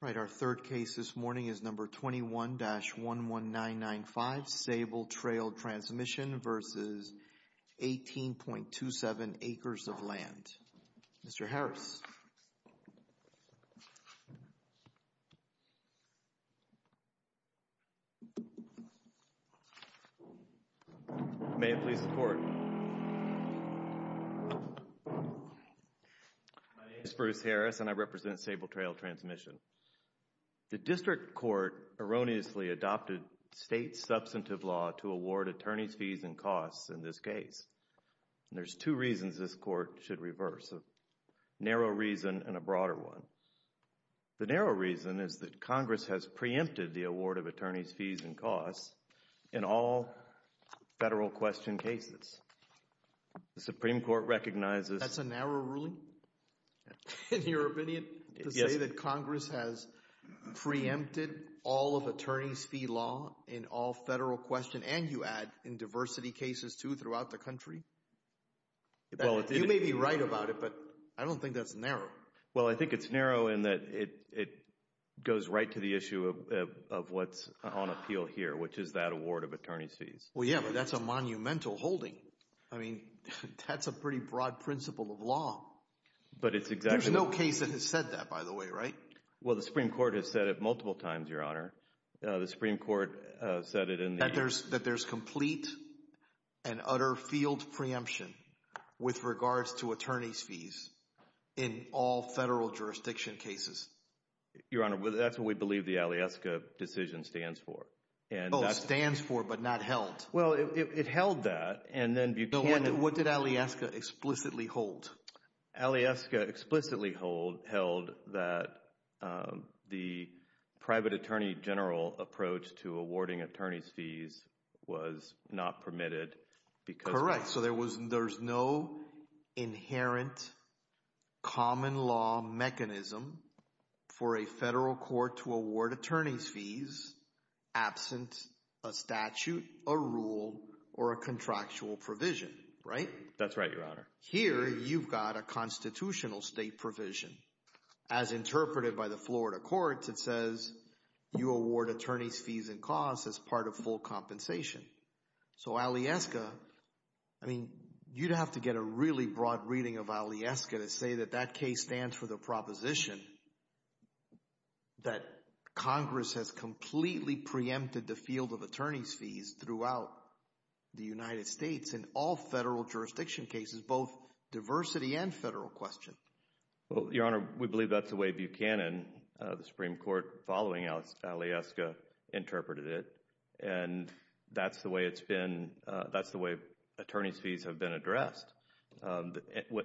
Right, our third case this morning is number 21-11995 Sable Trail Transmission versus 18.27 Acres of Land. Mr. Harris. May it please the Court. My name is Bruce Harris and I represent Sable Trail Transmission. The district court erroneously adopted state substantive law to award attorney's fees and costs in this case. And there's two reasons this Court should reverse, a narrow reason and a broader one. The narrow reason is that Congress has preempted the award of attorney's fees and costs in all federal question cases. The Supreme Court recognizes... That's a narrow ruling in your opinion to say that Congress has preempted all of attorney's fee law in all federal question and you add in diversity cases too throughout the country. You may be right about it, but I don't think that's narrow. Well, I think it's narrow in that it goes right to the issue of what's on appeal here, which is that award of attorney's fees. Well, yeah, but that's a monumental holding. I mean, that's a pretty broad principle of law. But it's exactly... There's no case that has said that by the way, right? Well, the Supreme Court has said it multiple times, Your Honor. The Supreme Court said it in the... That there's complete and utter field preemption with regards to attorney's fees in all federal jurisdiction cases. Your Honor, that's what we believe the Alyeska decision stands for. Oh, stands for, but not held. Well, it held that and then Buchanan... What did Alyeska explicitly hold? Alyeska explicitly held that the private attorney general approach to awarding attorney's fees was not permitted because... Correct. So there's no inherent common law mechanism for a federal court to award attorney's fees absent a statute, a rule, or a contractual provision, right? That's right, Your Honor. Here you've got a constitutional state provision. As interpreted by the Florida courts, it says you award attorney's fees and costs as part of full compensation. So Alyeska, I mean, you'd have to get a really broad reading of Alyeska to say that that case stands for the the field of attorney's fees throughout the United States in all federal jurisdiction cases, both diversity and federal question. Well, Your Honor, we believe that's the way Buchanan, the Supreme Court following Alyeska, interpreted it. And that's the way it's been... That's the way attorney's fees have been addressed.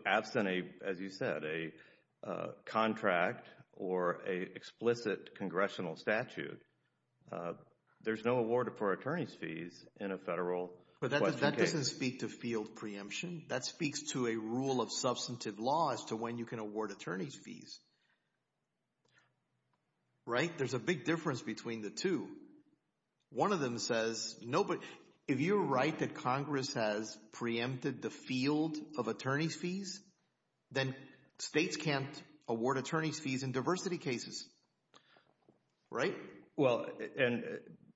Absent, as you said, a contract or a explicit congressional statute, there's no award for attorney's fees in a federal question case. But that doesn't speak to field preemption. That speaks to a rule of substantive law as to when you can award attorney's fees, right? There's a big difference between the two. One of them says, no, but if you're right that Congress has preempted the field of attorney's fees, right? Well, and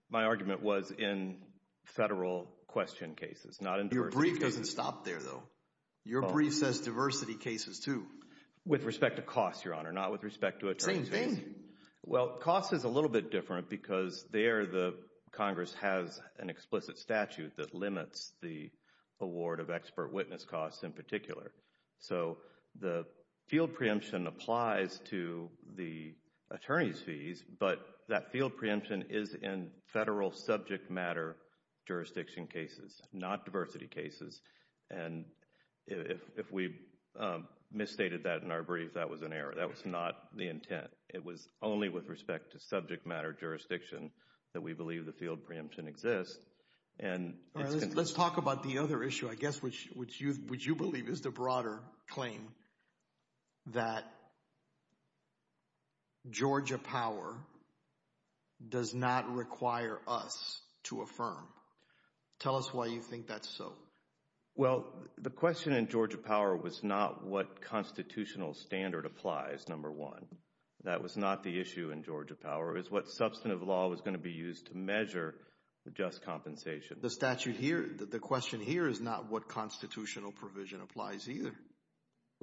my argument was in federal question cases, not in diversity cases. Your brief doesn't stop there, though. Your brief says diversity cases, too. With respect to costs, Your Honor, not with respect to attorney's fees. Same thing. Well, costs is a little bit different because there the Congress has an explicit statute that limits the award of expert witness costs in particular. So the field preemption applies to the attorney's fees, but that field preemption is in federal subject matter jurisdiction cases, not diversity cases. And if we misstated that in our brief, that was an error. That was not the intent. It was only with respect to subject matter jurisdiction that we believe the field preemption exists and... Let's talk about the other issue, I guess, which you believe is the broader claim that Georgia power does not require us to affirm. Tell us why you think that's so. Well, the question in Georgia power was not what constitutional standard applies, number one. That was not the issue in Georgia power. It's what substantive law was going to be used to measure the just compensation. The statute here, the question here is not what constitutional provision applies either.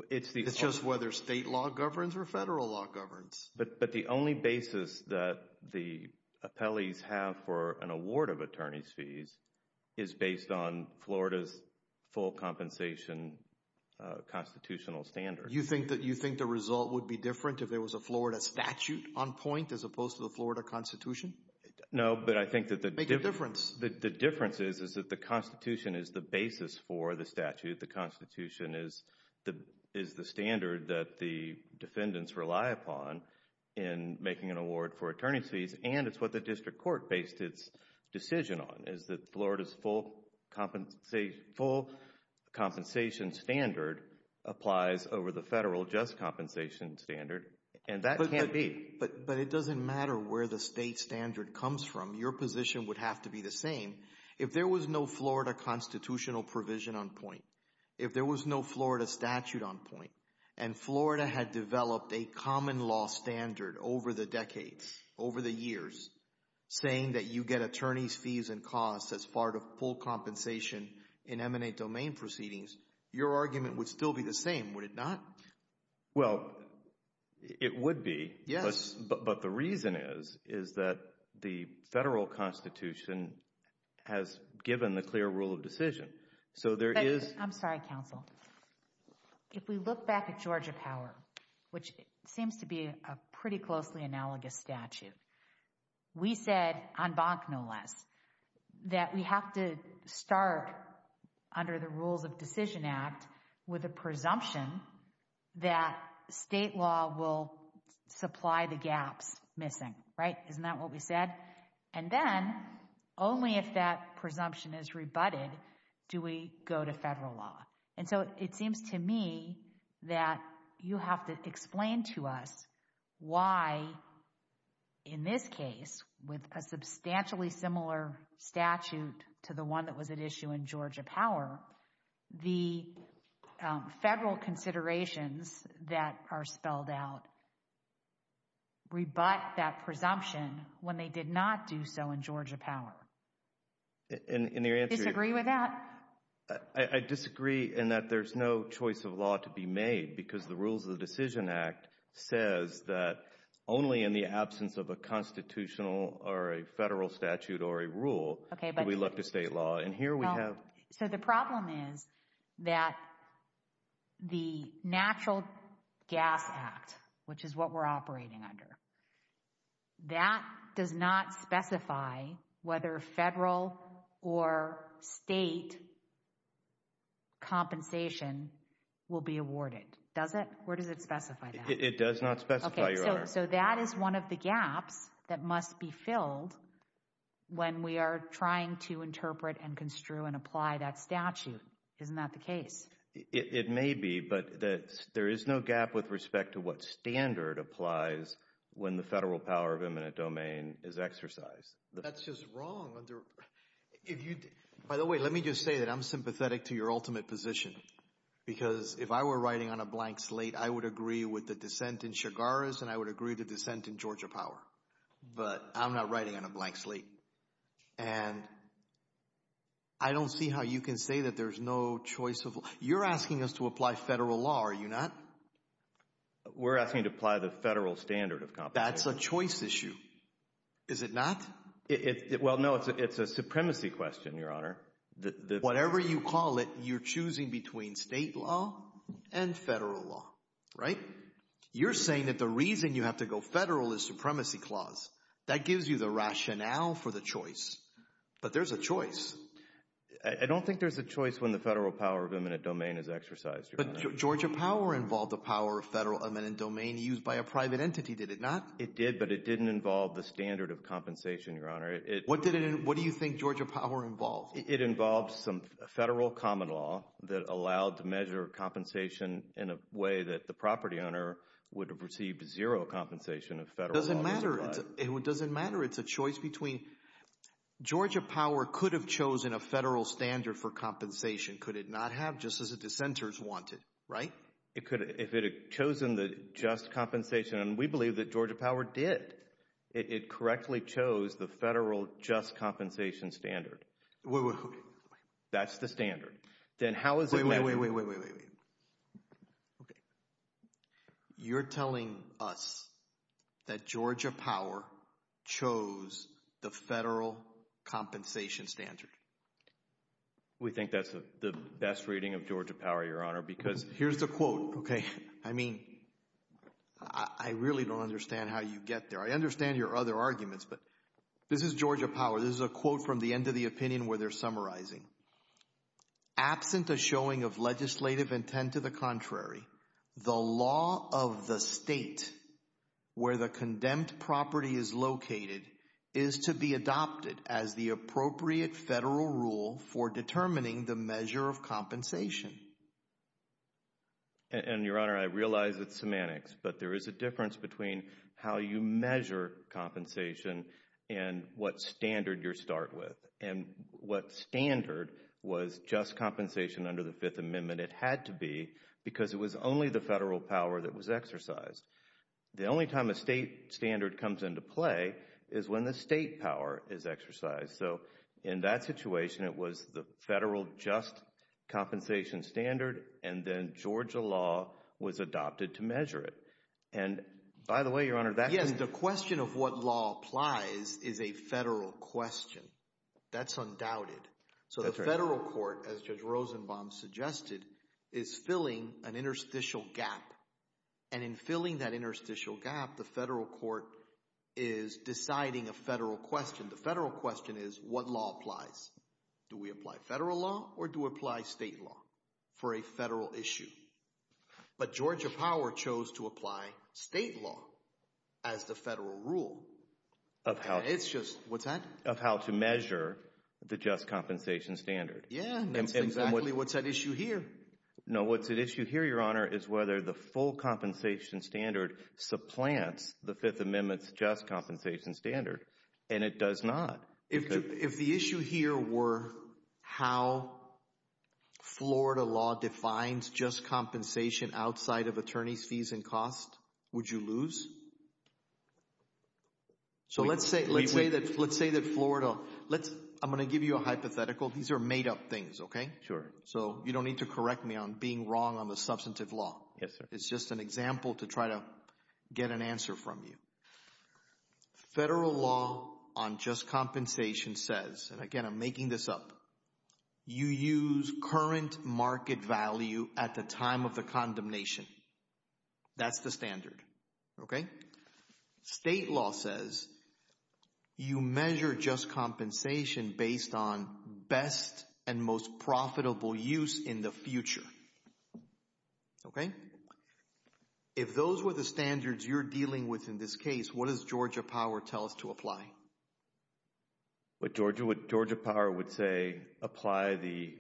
It's just whether state law governs or federal law governs. But the only basis that the appellees have for an award of attorney's fees is based on Florida's full compensation constitutional standard. You think that you think the result would be different if there was a Florida statute on point as opposed to the Florida Constitution? No, but I think that the... The difference is that the Constitution is the basis for the statute. The Constitution is the standard that the defendants rely upon in making an award for attorney's fees, and it's what the district court based its decision on, is that Florida's full compensation standard applies over the federal just compensation standard, and that can't be. But it doesn't matter where the state standard comes from. Your position would have to be the same. If there was no Florida constitutional provision on point, if there was no Florida statute on point, and Florida had developed a common law standard over the decades, over the years, saying that you get attorney's fees and costs as part of full compensation in M&A domain proceedings, your argument would still be the same, would it not? Well, it would be, but the reason is, is that the federal Constitution has given the clear rule of decision. So there is... I'm sorry, counsel. If we look back at Georgia power, which seems to be a pretty closely analogous statute, we said, en banc no less, that we have to start under the rules of decision act with a presumption that state law will supply the gaps missing, right? Isn't that what we said? And then, only if that presumption is rebutted, do we go to federal law. And so it seems to me that you have to explain to us why, in this case, with a substantially similar statute to the one that was at issue in Georgia power, the federal considerations that are spelled out rebut that presumption when they did not do so in Georgia power. And your answer... Disagree with that? I disagree in that there's no choice of law to be made because the rules of the decision act says that only in the absence of a constitutional or a federal statute or a rule do we look to state law. And here we have... So the problem is that the Natural Gas Act, which is what we're operating under, that does not specify whether federal or state compensation will be awarded. Does it? Where does it specify that? It does not specify. Okay, so that is one of the gaps that must be filled when we are trying to interpret and construe and apply that statute, isn't that the case? It may be, but there is no gap with respect to what standard applies when the federal power of eminent domain is exercised. That's just wrong. By the way, let me just say that I'm sympathetic to your ultimate position because if I were writing on a blank slate, I would agree with the dissent in Chigaris and I would agree with the dissent in Georgia Power. But I'm not writing on a blank slate. And I don't see how you can say that there's no choice of... You're asking us to apply federal law, are you not? We're asking to apply the federal standard of compensation. That's a choice issue. Is it not? Well, no, it's a supremacy question, Your Honor. Whatever you call it, you're choosing between state law and federal law, right? You're saying that the reason you have to go federal is supremacy clause. That gives you the rationale for the choice. But there's a choice. I don't think there's a choice when the federal power of eminent domain is exercised, Your Honor. But Georgia Power involved the power of federal eminent domain used by a private entity, did it not? It did, but it didn't involve the standard of compensation, Your Honor. What do you think Georgia Power involved? It involved some federal common law that allowed to measure compensation in a way that the property owner would have received zero compensation if federal law was applied. It doesn't matter. It's a choice between... Georgia Power could have chosen a federal standard for compensation, could it not have, just as the dissenters wanted, right? If it had chosen the just compensation, and we believe that Georgia Power did. It correctly chose the federal just compensation standard. That's the standard. Wait, wait, wait, wait, wait, wait, wait, wait. You're telling us that Georgia Power chose the federal compensation standard. We think that's the best reading of Georgia Power, Your Honor, because... Here's the quote, okay? I mean, I really don't understand how you get there. I understand your other arguments, but this is Georgia Power. This is a quote from the end of the opinion where they're summarizing. Absent a showing of legislative intent to the contrary, the law of the state where the condemned property is located is to be adopted as the appropriate federal rule for determining the measure of compensation. And, Your Honor, I realize it's semantics, but there is a difference between how you measure compensation and what standard you start with. And what standard was just compensation under the Fifth Amendment? It had to be because it was only the federal power that was exercised. The only time a state standard comes into play is when the state power is exercised. So, in that situation, it was the federal just compensation standard, and then Georgia law was adopted to measure it. And, by the way, Your Honor, that... Yes, the question of what law applies is a federal question. That's undoubted. That's right. So, the federal court, as Judge Rosenbaum suggested, is filling an interstitial gap. And in filling that interstitial gap, the federal court is deciding a federal question. And the federal question is, what law applies? Do we apply federal law or do we apply state law for a federal issue? But Georgia power chose to apply state law as the federal rule. Of how... It's just... What's that? Of how to measure the just compensation standard. Yeah, and that's exactly what's at issue here. No, what's at issue here, Your Honor, is whether the full compensation standard supplants the No, it does not. If the issue here were how Florida law defines just compensation outside of attorney's fees and costs, would you lose? So let's say that Florida... I'm going to give you a hypothetical. These are made up things, okay? Sure. So, you don't need to correct me on being wrong on the substantive law. Yes, sir. It's just an example to try to get an answer from you. Federal law on just compensation says, and again, I'm making this up, you use current market value at the time of the condemnation. That's the standard, okay? State law says you measure just compensation based on best and most profitable use in the future, okay? Again, if those were the standards you're dealing with in this case, what does Georgia Power tell us to apply? What Georgia Power would say, apply the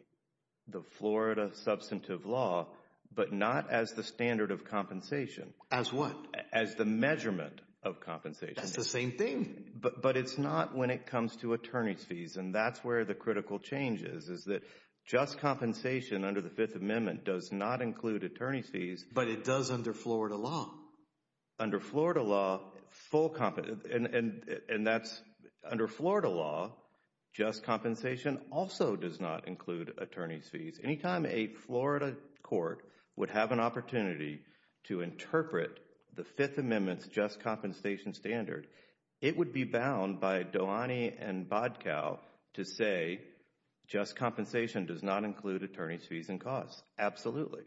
Florida substantive law, but not as the standard of compensation. As what? As the measurement of compensation. That's the same thing. But it's not when it comes to attorney's fees, and that's where the critical change is, is that just compensation under the Fifth Amendment does not include attorney's fees. But it does under Florida law. Under Florida law, full, and that's, under Florida law, just compensation also does not include attorney's fees. Anytime a Florida court would have an opportunity to interpret the Fifth Amendment's just compensation standard, it would be bound by Dohany and Bodcow to say, just compensation does not include attorney's fees and costs, absolutely.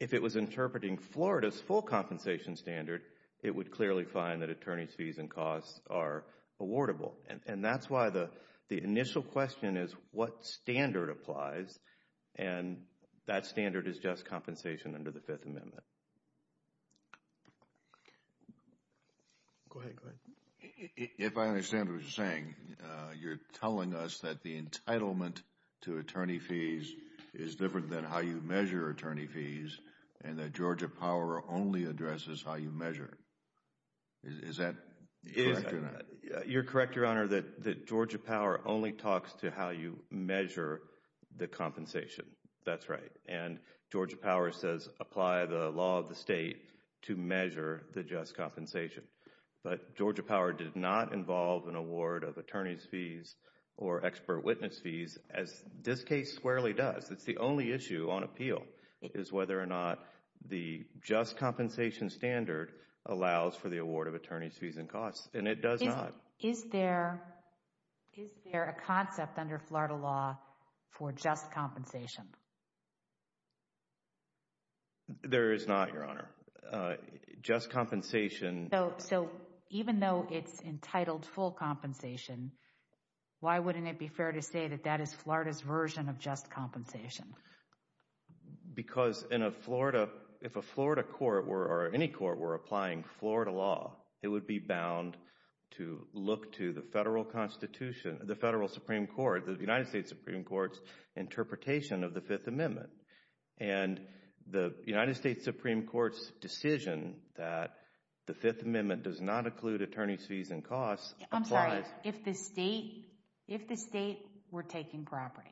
If it was interpreting Florida's full compensation standard, it would clearly find that attorney's fees and costs are awardable. And that's why the initial question is what standard applies, and that standard is just Go ahead, go ahead. If I understand what you're saying, you're telling us that the entitlement to attorney's fees is different than how you measure attorney's fees, and that Georgia Power only addresses how you measure. Is that correct or not? You're correct, Your Honor, that Georgia Power only talks to how you measure the compensation. That's right. And Georgia Power says apply the law of the state to measure the just compensation. But Georgia Power did not involve an award of attorney's fees or expert witness fees as this case squarely does. It's the only issue on appeal is whether or not the just compensation standard allows for the award of attorney's fees and costs, and it does not. Is there a concept under Florida law for just compensation? There is not, Your Honor. Just compensation. So even though it's entitled full compensation, why wouldn't it be fair to say that that is Florida's version of just compensation? Because if a Florida court or any court were applying Florida law, it would be bound to look to the federal constitution, the federal Supreme Court, the United States Supreme Court's interpretation of the Fifth Amendment. And the United States Supreme Court's decision that the Fifth Amendment does not include attorney's fees and costs applies. I'm sorry. If the state were taking property,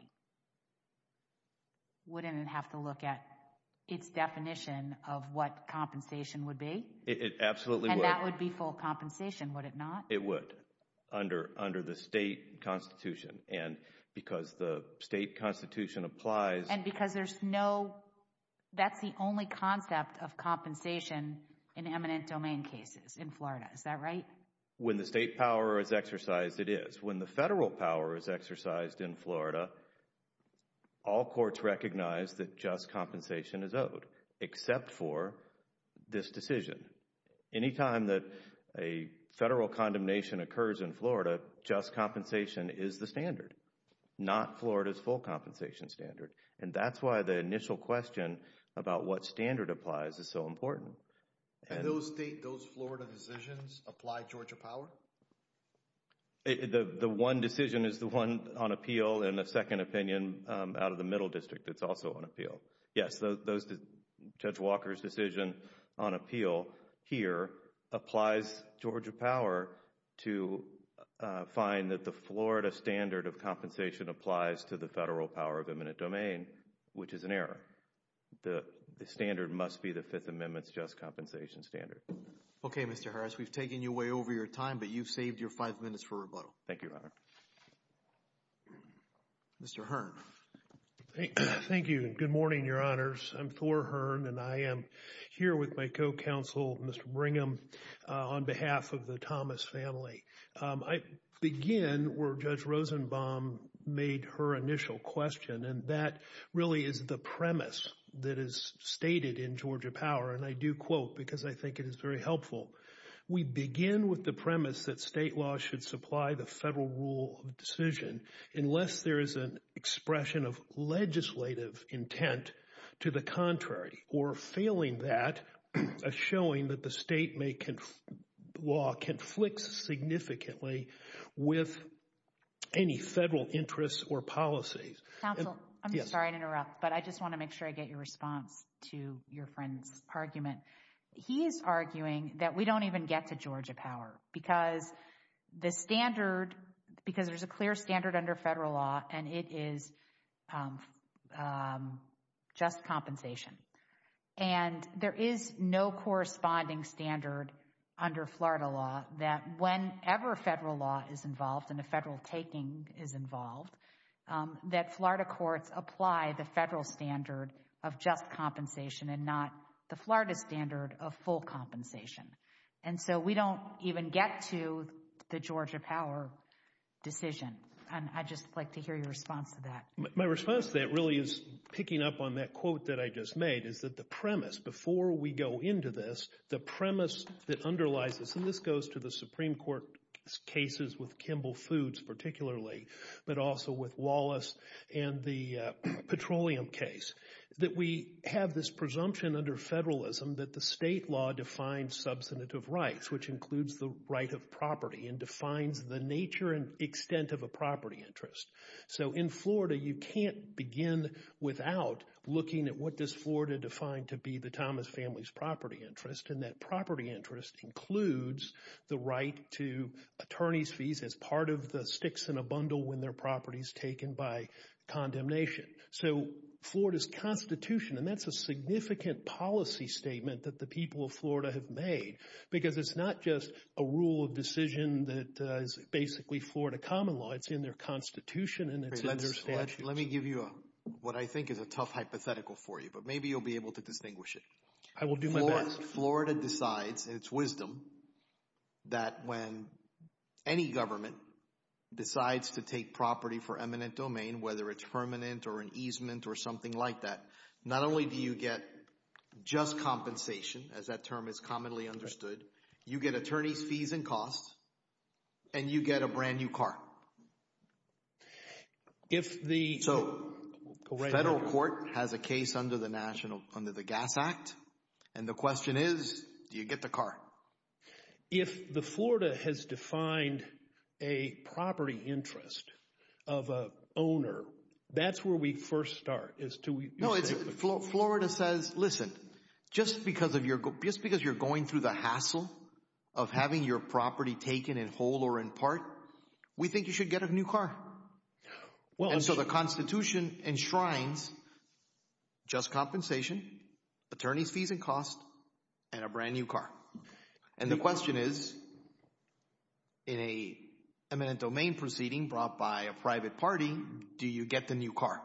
wouldn't it have to look at its definition of what compensation would be? It absolutely would. And that would be full compensation, would it not? It would, under the state constitution. And because the state constitution applies. And because there's no, that's the only concept of compensation in eminent domain cases in Florida, is that right? When the state power is exercised, it is. When the federal power is exercised in Florida, all courts recognize that just compensation is owed, except for this decision. Anytime that a federal condemnation occurs in Florida, just compensation is the standard. Not Florida's full compensation standard. And that's why the initial question about what standard applies is so important. Can those state, those Florida decisions apply Georgia power? The one decision is the one on appeal and the second opinion out of the middle district that's also on appeal. Yes, Judge Walker's decision on appeal here applies Georgia power to find that the Florida standard of compensation applies to the federal power of eminent domain, which is an error. The standard must be the Fifth Amendment's just compensation standard. Okay, Mr. Harris, we've taken you way over your time, but you've saved your five minutes for rebuttal. Thank you, Your Honor. Mr. Hearn. Thank you. Good morning, Your Honors. I'm Thor Hearn, and I am here with my co-counsel, Mr. Brigham, on behalf of the Thomas family. I begin where Judge Rosenbaum made her initial question, and that really is the premise that is stated in Georgia power. And I do quote because I think it is very helpful. We begin with the premise that state law should supply the federal rule of decision unless there is an expression of legislative intent to the contrary, or failing that, a showing that the state law conflicts significantly with any federal interests or policies. Counsel, I'm sorry to interrupt, but I just want to make sure I get your response to your friend's argument. He's arguing that we don't even get to Georgia power because there's a clear standard under federal law, and it is just compensation. And there is no corresponding standard under Florida law that whenever federal law is involved and a federal taking is involved, that Florida courts apply the federal standard of just compensation and not the Florida standard of full compensation. And so we don't even get to the Georgia power decision. I'd just like to hear your response to that. My response to that really is picking up on that quote that I just made is that the premise before we go into this, the premise that underlies this, and this goes to the Supreme Court cases with Kimball Foods particularly, but also with Wallace and the petroleum case, that we have this presumption under federalism that the state law defines substantive rights, which includes the right of property and defines the nature and extent of a property interest. So in Florida, you can't begin without looking at what does Florida define to be the Thomas family's property interest, and that property interest includes the right to attorney's fees as part of the sticks in a bundle when their property is taken by condemnation. So Florida's constitution, and that's a significant policy statement that the people of Florida have made, because it's not just a rule of decision that is basically Florida common law. It's in their constitution and it's in their statutes. Let me give you what I think is a tough hypothetical for you, but maybe you'll be able to distinguish it. I will do my best. Florida decides, in its wisdom, that when any government decides to take property for eminent domain, whether it's permanent or an easement or something like that, not only do you get just compensation, as that term is commonly understood, you get attorney's fees and costs, and you get a brand new car. If the- So, federal court has a case under the Gas Act, and the question is, do you get the car? If the Florida has defined a property interest of an owner, that's where we first start, is to- No, Florida says, listen, just because you're going through the hassle of having your property taken in whole or in part, we think you should get a new car. And so the constitution enshrines just compensation, attorney's fees and costs, and a brand new car. And the question is, in a eminent domain proceeding brought by a private party, do you get the new car?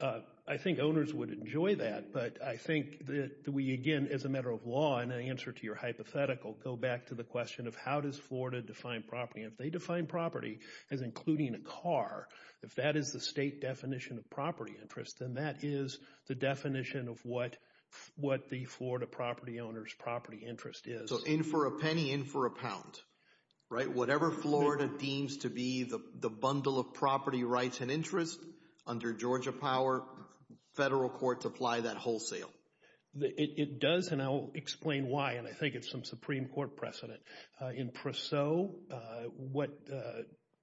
I think owners would enjoy that, but I think that we, again, as a matter of law, and in answer to your hypothetical, go back to the question of how does Florida define property. If they define property as including a car, if that is the state definition of property interest, then that is the definition of what the Florida property owner's property interest is. So, in for a penny, in for a pound, right? Under Georgia power, federal courts apply that wholesale. It does, and I'll explain why, and I think it's some Supreme Court precedent. In per se, what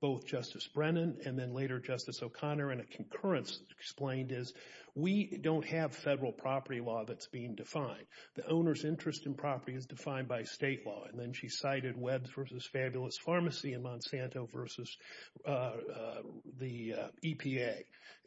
both Justice Brennan and then later Justice O'Connor and a concurrence explained is we don't have federal property law that's being defined. The owner's interest in property is defined by state law. And then she cited Webbs v. Fabulous Pharmacy and Monsanto v. the EPA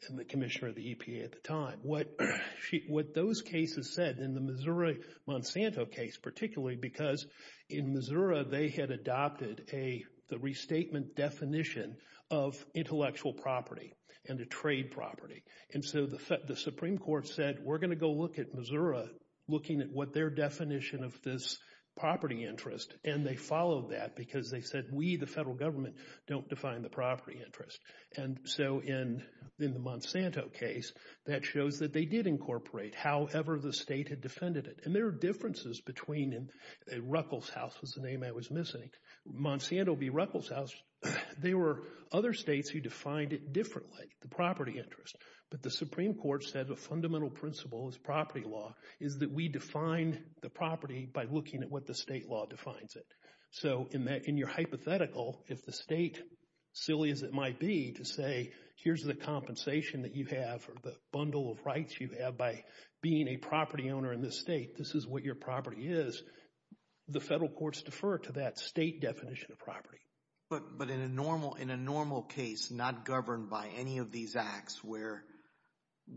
and the commissioner of the EPA at the time. What those cases said in the Missouri Monsanto case, particularly because in Missouri they had adopted the restatement definition of intellectual property and a trade property. And so the Supreme Court said, we're going to go look at Missouri, looking at what their definition of this property interest, and they followed that because they said, we, the federal government, don't define the property interest. And so in the Monsanto case, that shows that they did incorporate however the state had defended it. And there are differences between, and Ruckelshaus was the name I was missing, Monsanto v. Ruckelshaus, they were other states who defined it differently, the property interest. But the Supreme Court said a fundamental principle as property law is that we define the property by looking at what the state law defines it. So in your hypothetical, if the state, silly as it might be, to say, here's the compensation that you have or the bundle of rights you have by being a property owner in this state, this is what your property is, the federal courts defer to that state definition of property. But in a normal case, not governed by any of these acts where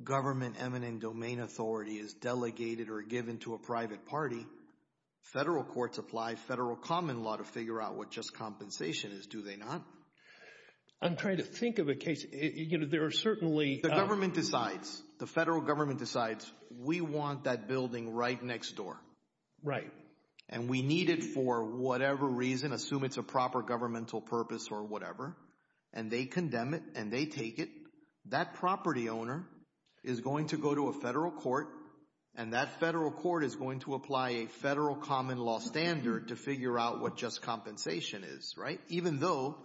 government eminent domain authority is delegated or given to a private party, federal courts apply federal common law to figure out what just compensation is, do they not? I'm trying to think of a case, you know, there are certainly... The government decides, the federal government decides, we want that building right next door. Right. And we need it for whatever reason, assume it's a proper governmental purpose or whatever, and they condemn it and they take it, that property owner is going to go to a federal court and that federal court is going to apply a federal common law standard to figure out what just compensation is, right? Even though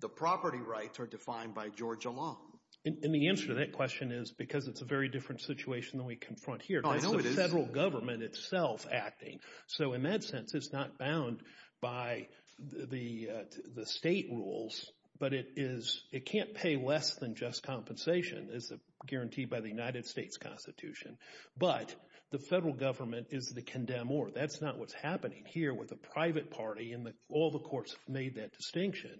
the property rights are defined by Georgia law. And the answer to that question is because it's a very different situation than we confront here. No, I know it is. That's the federal government itself acting. So in that sense, it's not bound by the state rules, but it is, it can't pay less than just compensation as guaranteed by the United States Constitution. But the federal government is the condemner. That's not what's happening here with a private party and all the courts have made that distinction,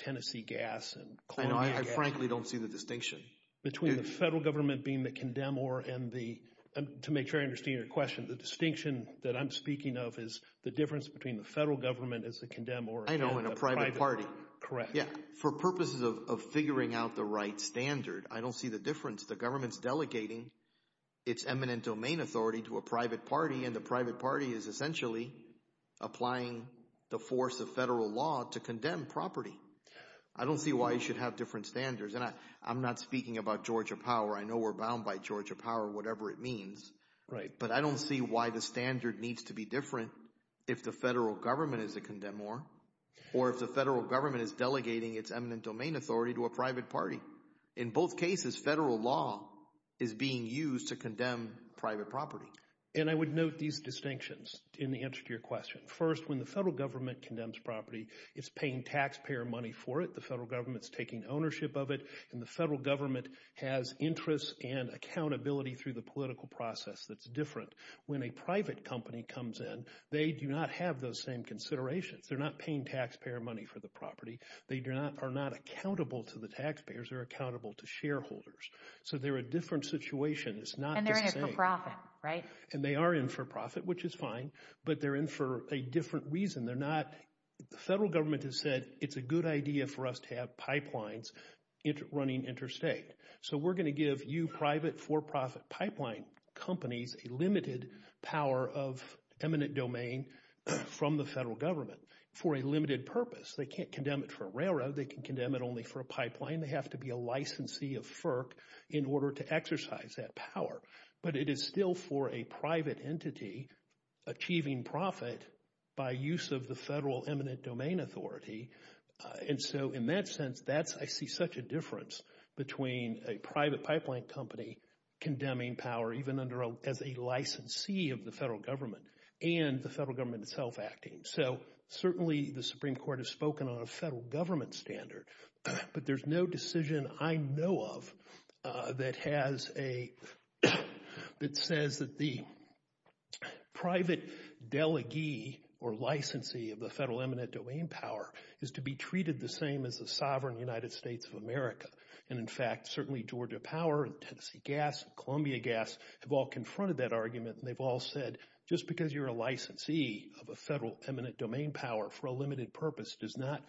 Tennessee gas and Columbia gas. I know, I frankly don't see the distinction. Between the federal government being the condemner and the, to make sure I understand your question, the distinction that I'm speaking of is the difference between the federal government as the condemn or as the private party. I know, and a private party. Correct. Yeah. For purposes of figuring out the right standard, I don't see the difference. The government's delegating its eminent domain authority to a private party and the private party is essentially applying the force of federal law to condemn property. I don't see why you should have different standards. And I'm not speaking about Georgia power. I know we're bound by Georgia power, whatever it means. Right. But I don't see why the standard needs to be different if the federal government is a condemn or, or if the federal government is delegating its eminent domain authority to a private party. In both cases, federal law is being used to condemn private property. And I would note these distinctions in the answer to your question. First, when the federal government condemns property, it's paying taxpayer money for it. The federal government's taking ownership of it and the federal government has interests and accountability through the political process that's different. When a private company comes in, they do not have those same considerations. They're not paying taxpayer money for the property. They do not, are not accountable to the taxpayers, they're accountable to shareholders. So they're a different situation. It's not the same. And they're in for profit, right? And they are in for profit, which is fine, but they're in for a different reason. They're not, the federal government has said, it's a good idea for us to have pipelines running interstate. So we're going to give you private for-profit pipeline companies a limited power of eminent domain from the federal government for a limited purpose. They can't condemn it for a railroad, they can condemn it only for a pipeline, they have to be a licensee of FERC in order to exercise that power. But it is still for a private entity achieving profit by use of the federal eminent domain authority. And so in that sense, I see such a difference between a private pipeline company condemning power even as a licensee of the federal government and the federal government itself acting. So certainly the Supreme Court has spoken on a federal government standard, but there's no decision I know of that says that the private delegee or licensee of the federal eminent domain power is to be treated the same as the sovereign United States of America. And in fact, certainly Georgia Power and Tennessee Gas and Columbia Gas have all confronted that argument and they've all said, just because you're a licensee of a federal eminent domain power for a limited purpose does not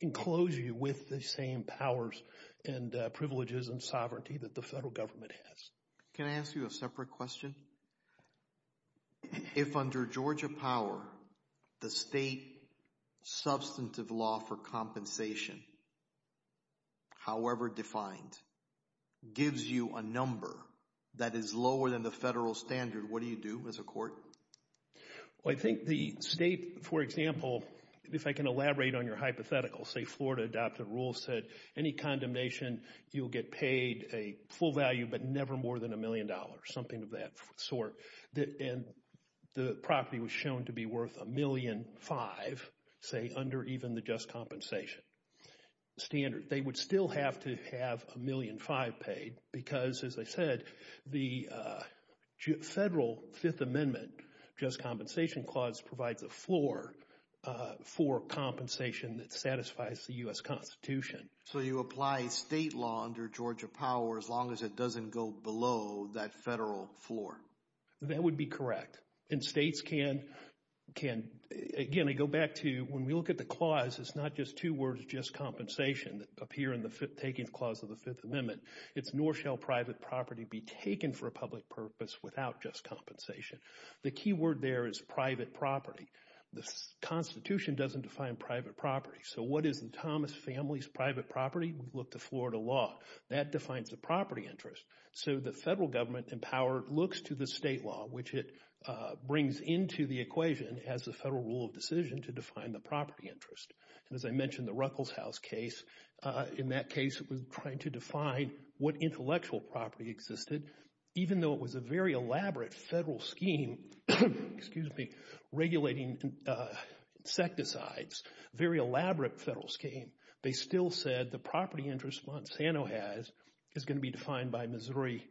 enclose you with the same powers and privileges and sovereignty that the federal government has. Can I ask you a separate question? If under Georgia Power, the state substantive law for compensation, however defined, gives you a number that is lower than the federal standard, what do you do as a court? Well, I think the state, for example, if I can elaborate on your hypothetical, say Florida adopted a rule that said any condemnation, you'll get paid a full value but never more than a million dollars, something of that sort. And the property was shown to be worth a million five, say under even the just compensation standard. They would still have to have a million five paid because, as I said, the federal Fifth Amendment just compensation clause provides a floor for compensation that satisfies the U.S. Constitution. So you apply state law under Georgia Power as long as it doesn't go below that federal floor? That would be correct. And states can, again, I go back to when we look at the clause, it's not just two words just compensation that appear in the fifth clause of the Fifth Amendment. It's nor shall private property be taken for a public purpose without just compensation. The key word there is private property. The Constitution doesn't define private property. So what is the Thomas family's private property? We look to Florida law. That defines the property interest. So the federal government in power looks to the state law, which it brings into the equation as the federal rule of decision to define the property interest. And as I mentioned, the Ruckelshaus case, in that case, it was trying to define what intellectual property existed, even though it was a very elaborate federal scheme, excuse me, very elaborate federal scheme. They still said the property interest Monsanto has is going to be defined by Missouri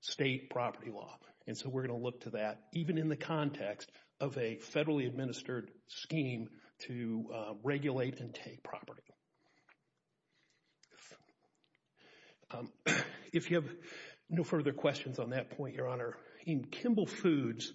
state property law. And so we're going to look to that even in the context of a federally administered scheme to regulate and take property. If you have no further questions on that point, Your Honor, in Kimball Foods,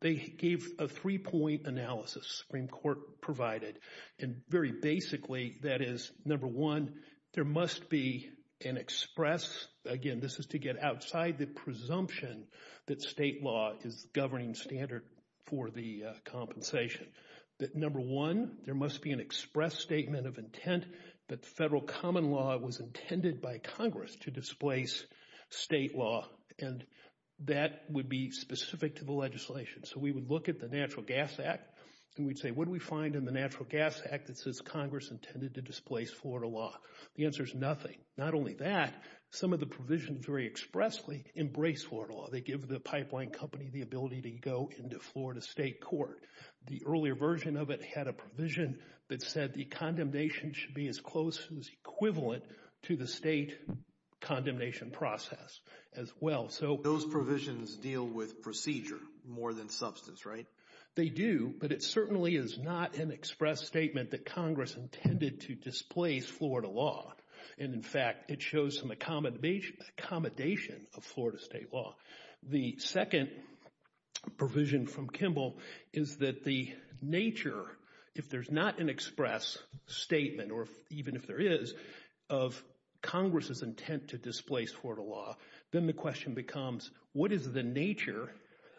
they gave a three-point analysis, Supreme Court provided, and very basically, that is, number one, there must be an express, again, this is to get outside the presumption that state law is governing standard for the compensation, that number one, there must be an express statement of intent that federal common law was intended by Congress to displace state law. And that would be specific to the legislation. So we would look at the Natural Gas Act, and we'd say, what do we find in the Natural Gas Act that says Congress intended to displace Florida law? The answer is nothing. Not only that, some of the provisions very expressly embrace Florida law. They give the pipeline company the ability to go into Florida state court. The earlier version of it had a provision that said the condemnation should be as close as equivalent to the state condemnation process as well. Those provisions deal with procedure more than substance, right? They do, but it certainly is not an express statement that Congress intended to displace Florida law. And in fact, it shows some accommodation of Florida state law. The second provision from Kimball is that the nature, if there's not an express statement, or even if there is, of Congress's intent to displace Florida law, then the question becomes what is the nature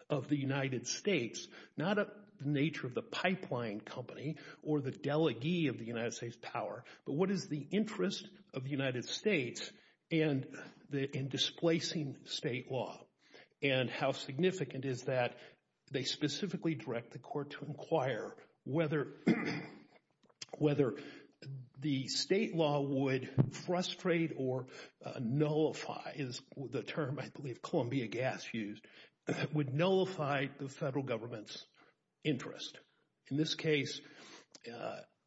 of the United States, not the nature of the pipeline company or the delegee of the United States power, but what is the interest of the United States in displacing state law? And how significant is that? They specifically direct the court to inquire whether the state law would frustrate or nullify is the term I believe Columbia Gas used, would nullify the federal government's interest. In this case,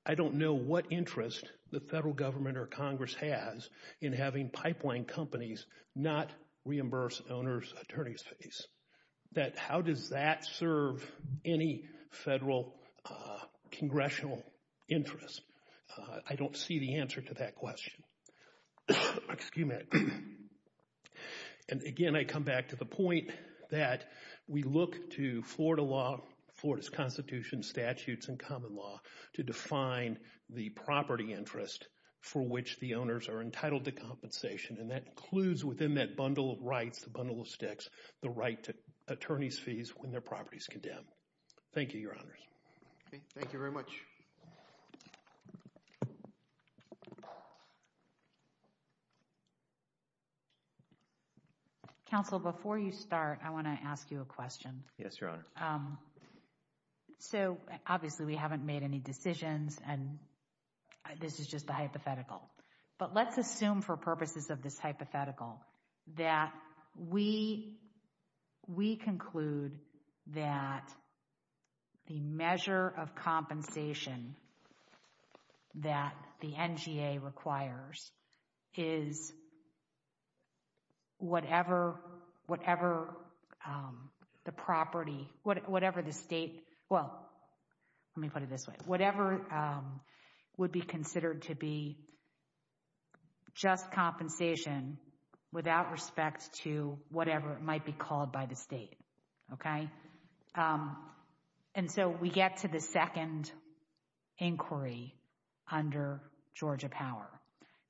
I don't know what interest the federal government or Congress has in having pipeline companies not reimburse owner's attorney's fees. That how does that serve any federal congressional interest? I don't see the answer to that question. Excuse me. And again, I come back to the point that we look to Florida law, Florida's constitution, statutes, and common law to define the property interest for which the owners are entitled to compensation. And that includes within that bundle of rights, the bundle of sticks, the right to attorney's fees when their property is condemned. Thank you, Your Honors. Okay. Thank you very much. Counsel, before you start, I want to ask you a question. Yes, Your Honor. So obviously we haven't made any decisions and this is just a hypothetical, but let's assume for purposes of this hypothetical that we, we conclude that the measure of compensation that the NGA requires is whatever, whatever the property, whatever the state, well, let me put it this way, whatever would be considered to be just compensation without respect to whatever it might be called by the state. Okay. And so we get to the second inquiry under Georgia Power.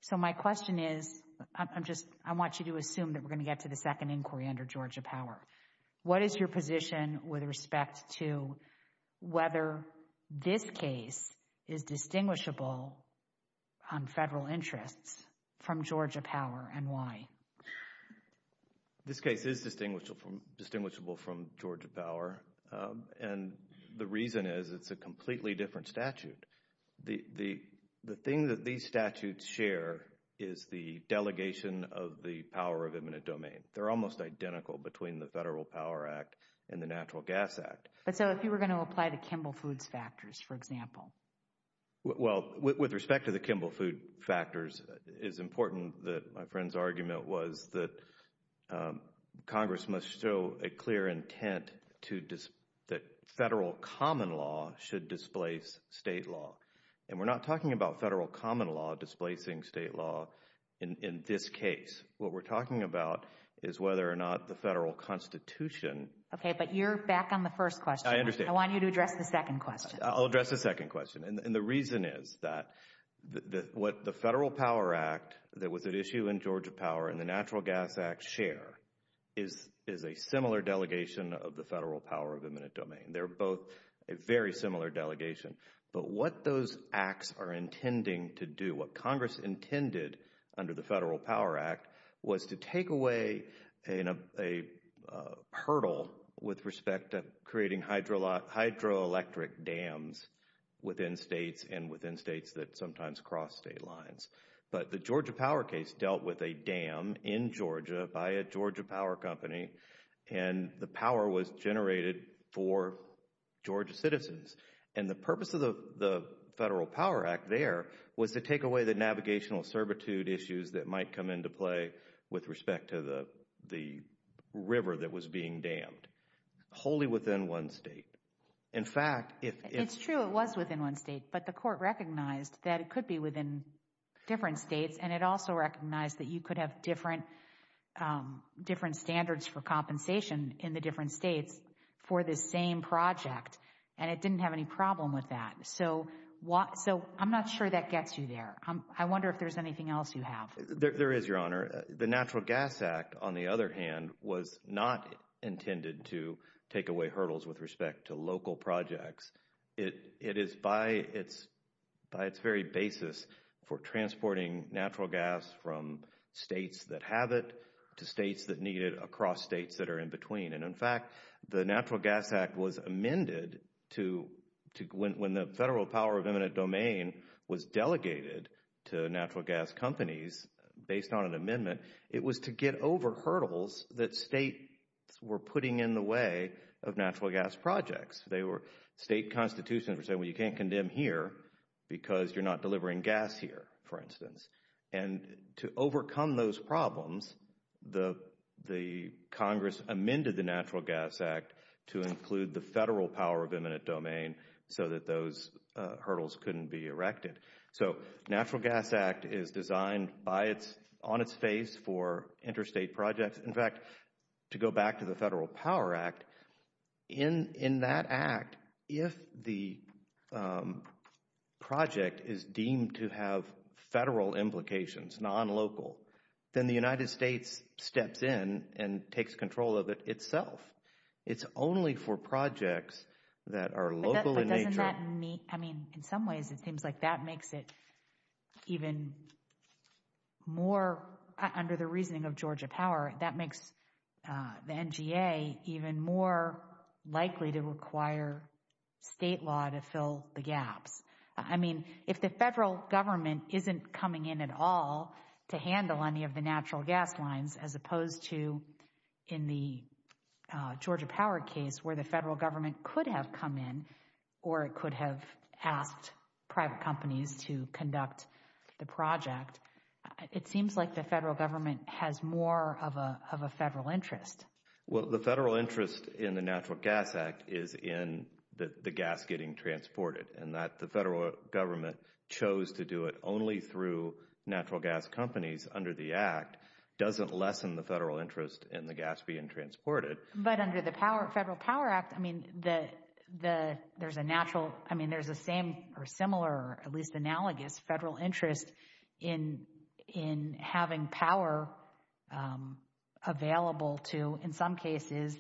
So my question is, I'm just, I want you to assume that we're going to get to the second inquiry under Georgia Power. What is your position with respect to whether this case is distinguishable on federal interests from Georgia Power and why? This case is distinguishable from Georgia Power and the reason is it's a completely different statute. The thing that these statutes share is the delegation of the power of eminent domain. They're almost identical between the Federal Power Act and the Natural Gas Act. But so if you were going to apply to Kimball Foods factors, for example? Well, with respect to the Kimball Food factors, it's important that my friend's argument was that Congress must show a clear intent to, that federal common law should displace state law. And we're not talking about federal common law displacing state law in this case. What we're talking about is whether or not the federal constitution. Okay, but you're back on the first question. I understand. I want you to address the second question. I'll address the second question. And the reason is that what the Federal Power Act that was at issue in Georgia Power and the Natural Gas Act share is a similar delegation of the federal power of eminent domain. They're both a very similar delegation. But what those acts are intending to do, what Congress intended under the Federal Power Act, was to take away a hurdle with respect to creating hydroelectric dams within states and within states that sometimes cross state lines. But the Georgia Power case dealt with a dam in Georgia by a Georgia power company, and the power was generated for Georgia citizens. And the purpose of the Federal Power Act there was to take away the navigational servitude issues that might come into play with respect to the river that was being dammed, wholly within one state. In fact, it's true it was within one state, but the court recognized that it could be within different states, and it also recognized that you could have different standards for compensation in the different states for this same project, and it didn't have any problem with that. So, I'm not sure that gets you there. I wonder if there's anything else you have. There is, Your Honor. The Natural Gas Act, on the other hand, was not intended to take away hurdles with respect to local projects. It is by its very basis for transporting natural gas from states that have it to states that need it across states that are in between. And in fact, the Natural Gas Act was amended to, when the Federal Power of Eminent Domain was delegated to natural gas companies based on an amendment, it was to get over hurdles that states were putting in the way of natural gas projects. State constitutions were saying, well, you can't condemn here because you're not delivering gas here, for instance. And to overcome those problems, the Congress amended the Natural Gas Act to include the So, the Natural Gas Act is designed on its face for interstate projects. In fact, to go back to the Federal Power Act, in that act, if the project is deemed to have federal implications, non-local, then the United States steps in and takes control of it itself. It's only for projects that are local in nature. But doesn't that mean, I mean, in some ways it seems like that makes it even more, under the reasoning of Georgia Power, that makes the NGA even more likely to require state law to fill the gaps. I mean, if the federal government isn't coming in at all to handle any of the natural gas lines, as opposed to in the Georgia Power case, where the federal government could have come in or it could have asked private companies to conduct the project, it seems like the federal government has more of a federal interest. Well, the federal interest in the Natural Gas Act is in the gas getting transported. And that the federal government chose to do it only through natural gas companies under the act doesn't lessen the federal interest in the gas being transported. But under the Federal Power Act, I mean, there's a natural, I mean, there's a same or similar, at least analogous federal interest in having power available to, in some cases,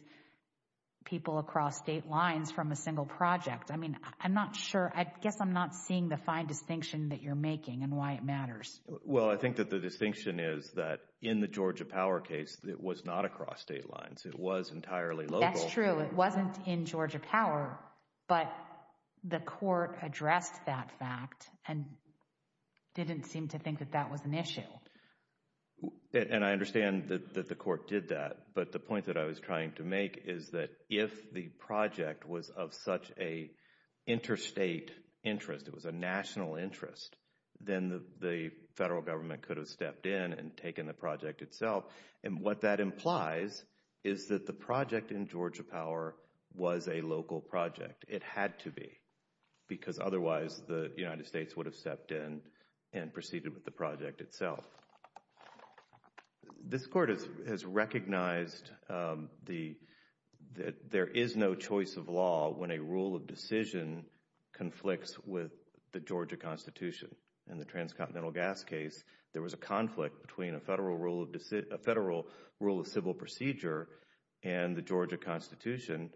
people across state lines from a single project. I mean, I'm not sure, I guess I'm not seeing the fine distinction that you're making and why it matters. Well, I think that the distinction is that in the Georgia Power case, it was not across state lines. It was entirely local. That's true. It wasn't in Georgia Power, but the court addressed that fact and didn't seem to think that that was an issue. And I understand that the court did that. But the point that I was trying to make is that if the project was of such a interstate interest, it was a national interest, then the federal government could have stepped in and taken the project itself. And what that implies is that the project in Georgia Power was a local project. It had to be, because otherwise the United States would have stepped in and proceeded with the project itself. This court has recognized that there is no choice of law when a rule of decision conflicts with the Georgia Constitution. In the transcontinental gas case, there was a conflict between a federal rule of civil procedure and the Georgia Constitution,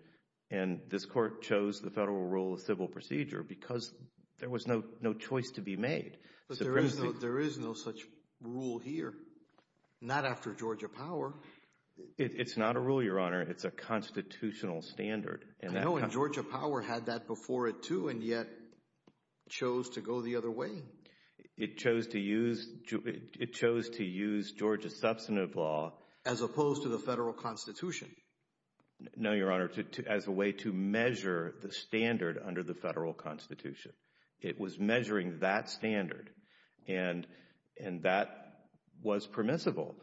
and this court chose the federal rule of civil procedure because there was no choice to be made. There is no such rule here. Not after Georgia Power. It's not a rule, Your Honor. It's a constitutional standard. I know, and Georgia Power had that before it, too, and yet chose to go the other way. It chose to use Georgia's substantive law. As opposed to the federal Constitution. No, Your Honor, as a way to measure the standard under the federal Constitution. It was measuring that standard, and that was permissible.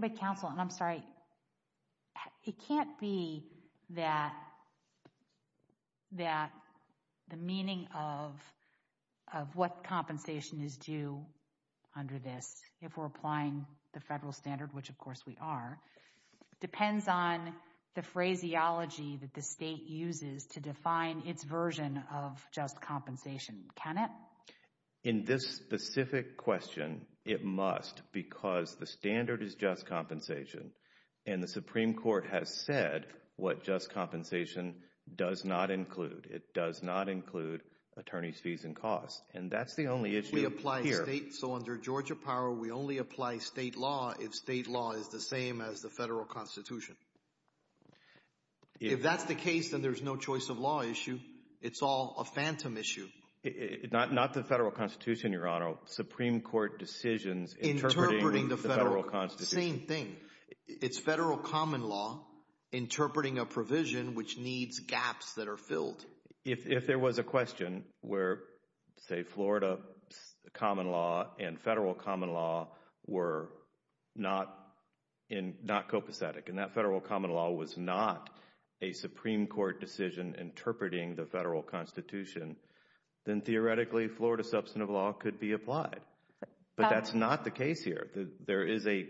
But, counsel, and I'm sorry, it can't be that the meaning of what compensation is due under this, if we're applying the federal standard, which of course we are, depends on the phraseology that the state uses to define its version of just compensation. Can it? In this specific question, it must, because the standard is just compensation, and the Supreme Court has said what just compensation does not include. It does not include attorney's fees and costs, and that's the only issue here. So under Georgia Power, we only apply state law if state law is the same as the federal Constitution. If that's the case, then there's no choice of law issue. It's all a phantom issue. Not the federal Constitution, Your Honor, Supreme Court decisions interpreting the federal Constitution. Same thing. It's federal common law interpreting a provision which needs gaps that are filled. If there was a question where, say, Florida common law and federal common law were not copacetic, and that federal common law was not a Supreme Court decision interpreting the federal Constitution, then theoretically Florida substantive law could be applied. But that's not the case here. There is a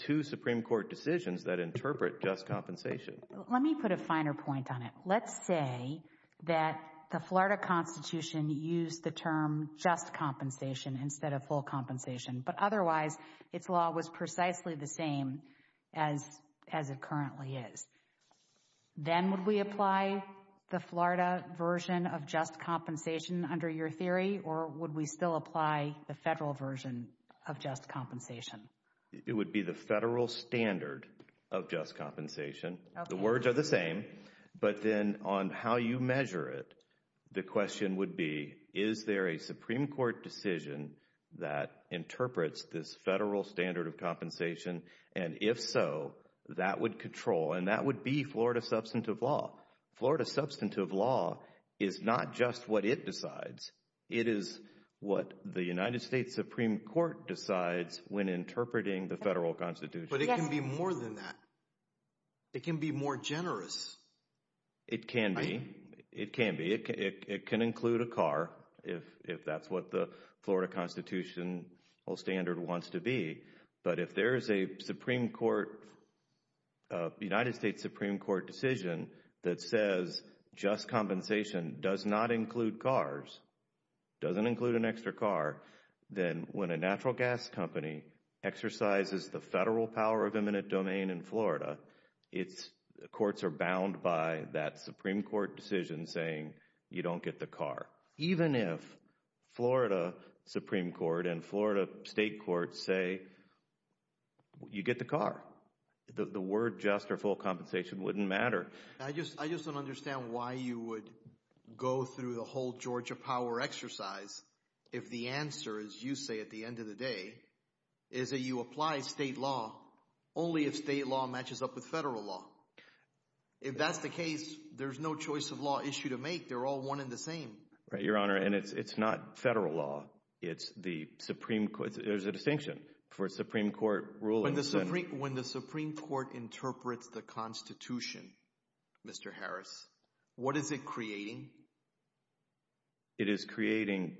two Supreme Court decisions that interpret just compensation. Let me put a finer point on it. Let's say that the Florida Constitution used the term just compensation instead of full compensation, but otherwise its law was precisely the same as it currently is. Then would we apply the Florida version of just compensation under your theory, or would we still apply the federal version of just compensation? It would be the federal standard of just compensation. The words are the same, but then on how you measure it, the question would be, is there a Supreme Court decision that interprets this federal standard of compensation? If so, that would control, and that would be Florida substantive law. Florida substantive law is not just what it decides. It is what the United States Supreme Court decides when interpreting the federal Constitution. But it can be more than that. It can be more generous. It can be. It can be. It can include a car, if that's what the Florida Constitution standard wants to be. But if there is a United States Supreme Court decision that says just compensation does not include cars, doesn't include an extra car, then when a natural gas company exercises the federal power of eminent domain in Florida, courts are bound by that Supreme Court decision saying you don't get the car. Even if Florida Supreme Court and Florida state courts say you get the car, the word just or full compensation wouldn't matter. I just don't understand why you would go through the whole Georgia power exercise if the answer, as you say at the end of the day, is that you apply state law only if state law matches up with federal law. If that's the case, there's no choice of law issue to make. They're all one and the same. Right, Your Honor. And it's not federal law. It's the Supreme Court. There's a distinction for Supreme Court rulings. When the Supreme Court interprets the Constitution, Mr. Harris, what is it creating? It is creating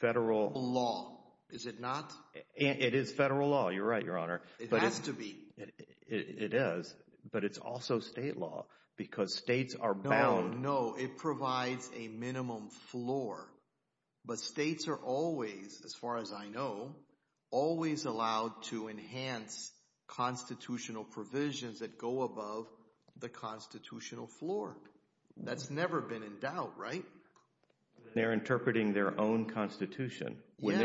federal law. Is it not? It is federal law. You're right, Your Honor. It has to be. It is. But it's also state law because states are bound. No, no. It provides a minimum floor. But states are always, as far as I know, always allowed to enhance constitutional provisions that go above the constitutional floor. That's never been in doubt, right? They're interpreting their own Constitution. When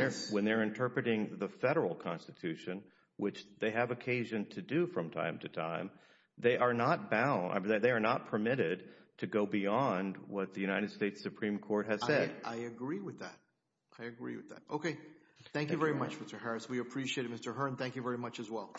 they're interpreting the federal Constitution, which they have occasion to do from time to what the United States Supreme Court has said. I agree with that. I agree with that. Okay. Thank you very much, Mr. Harris. We appreciate it, Mr. Hearn. Thank you very much as well.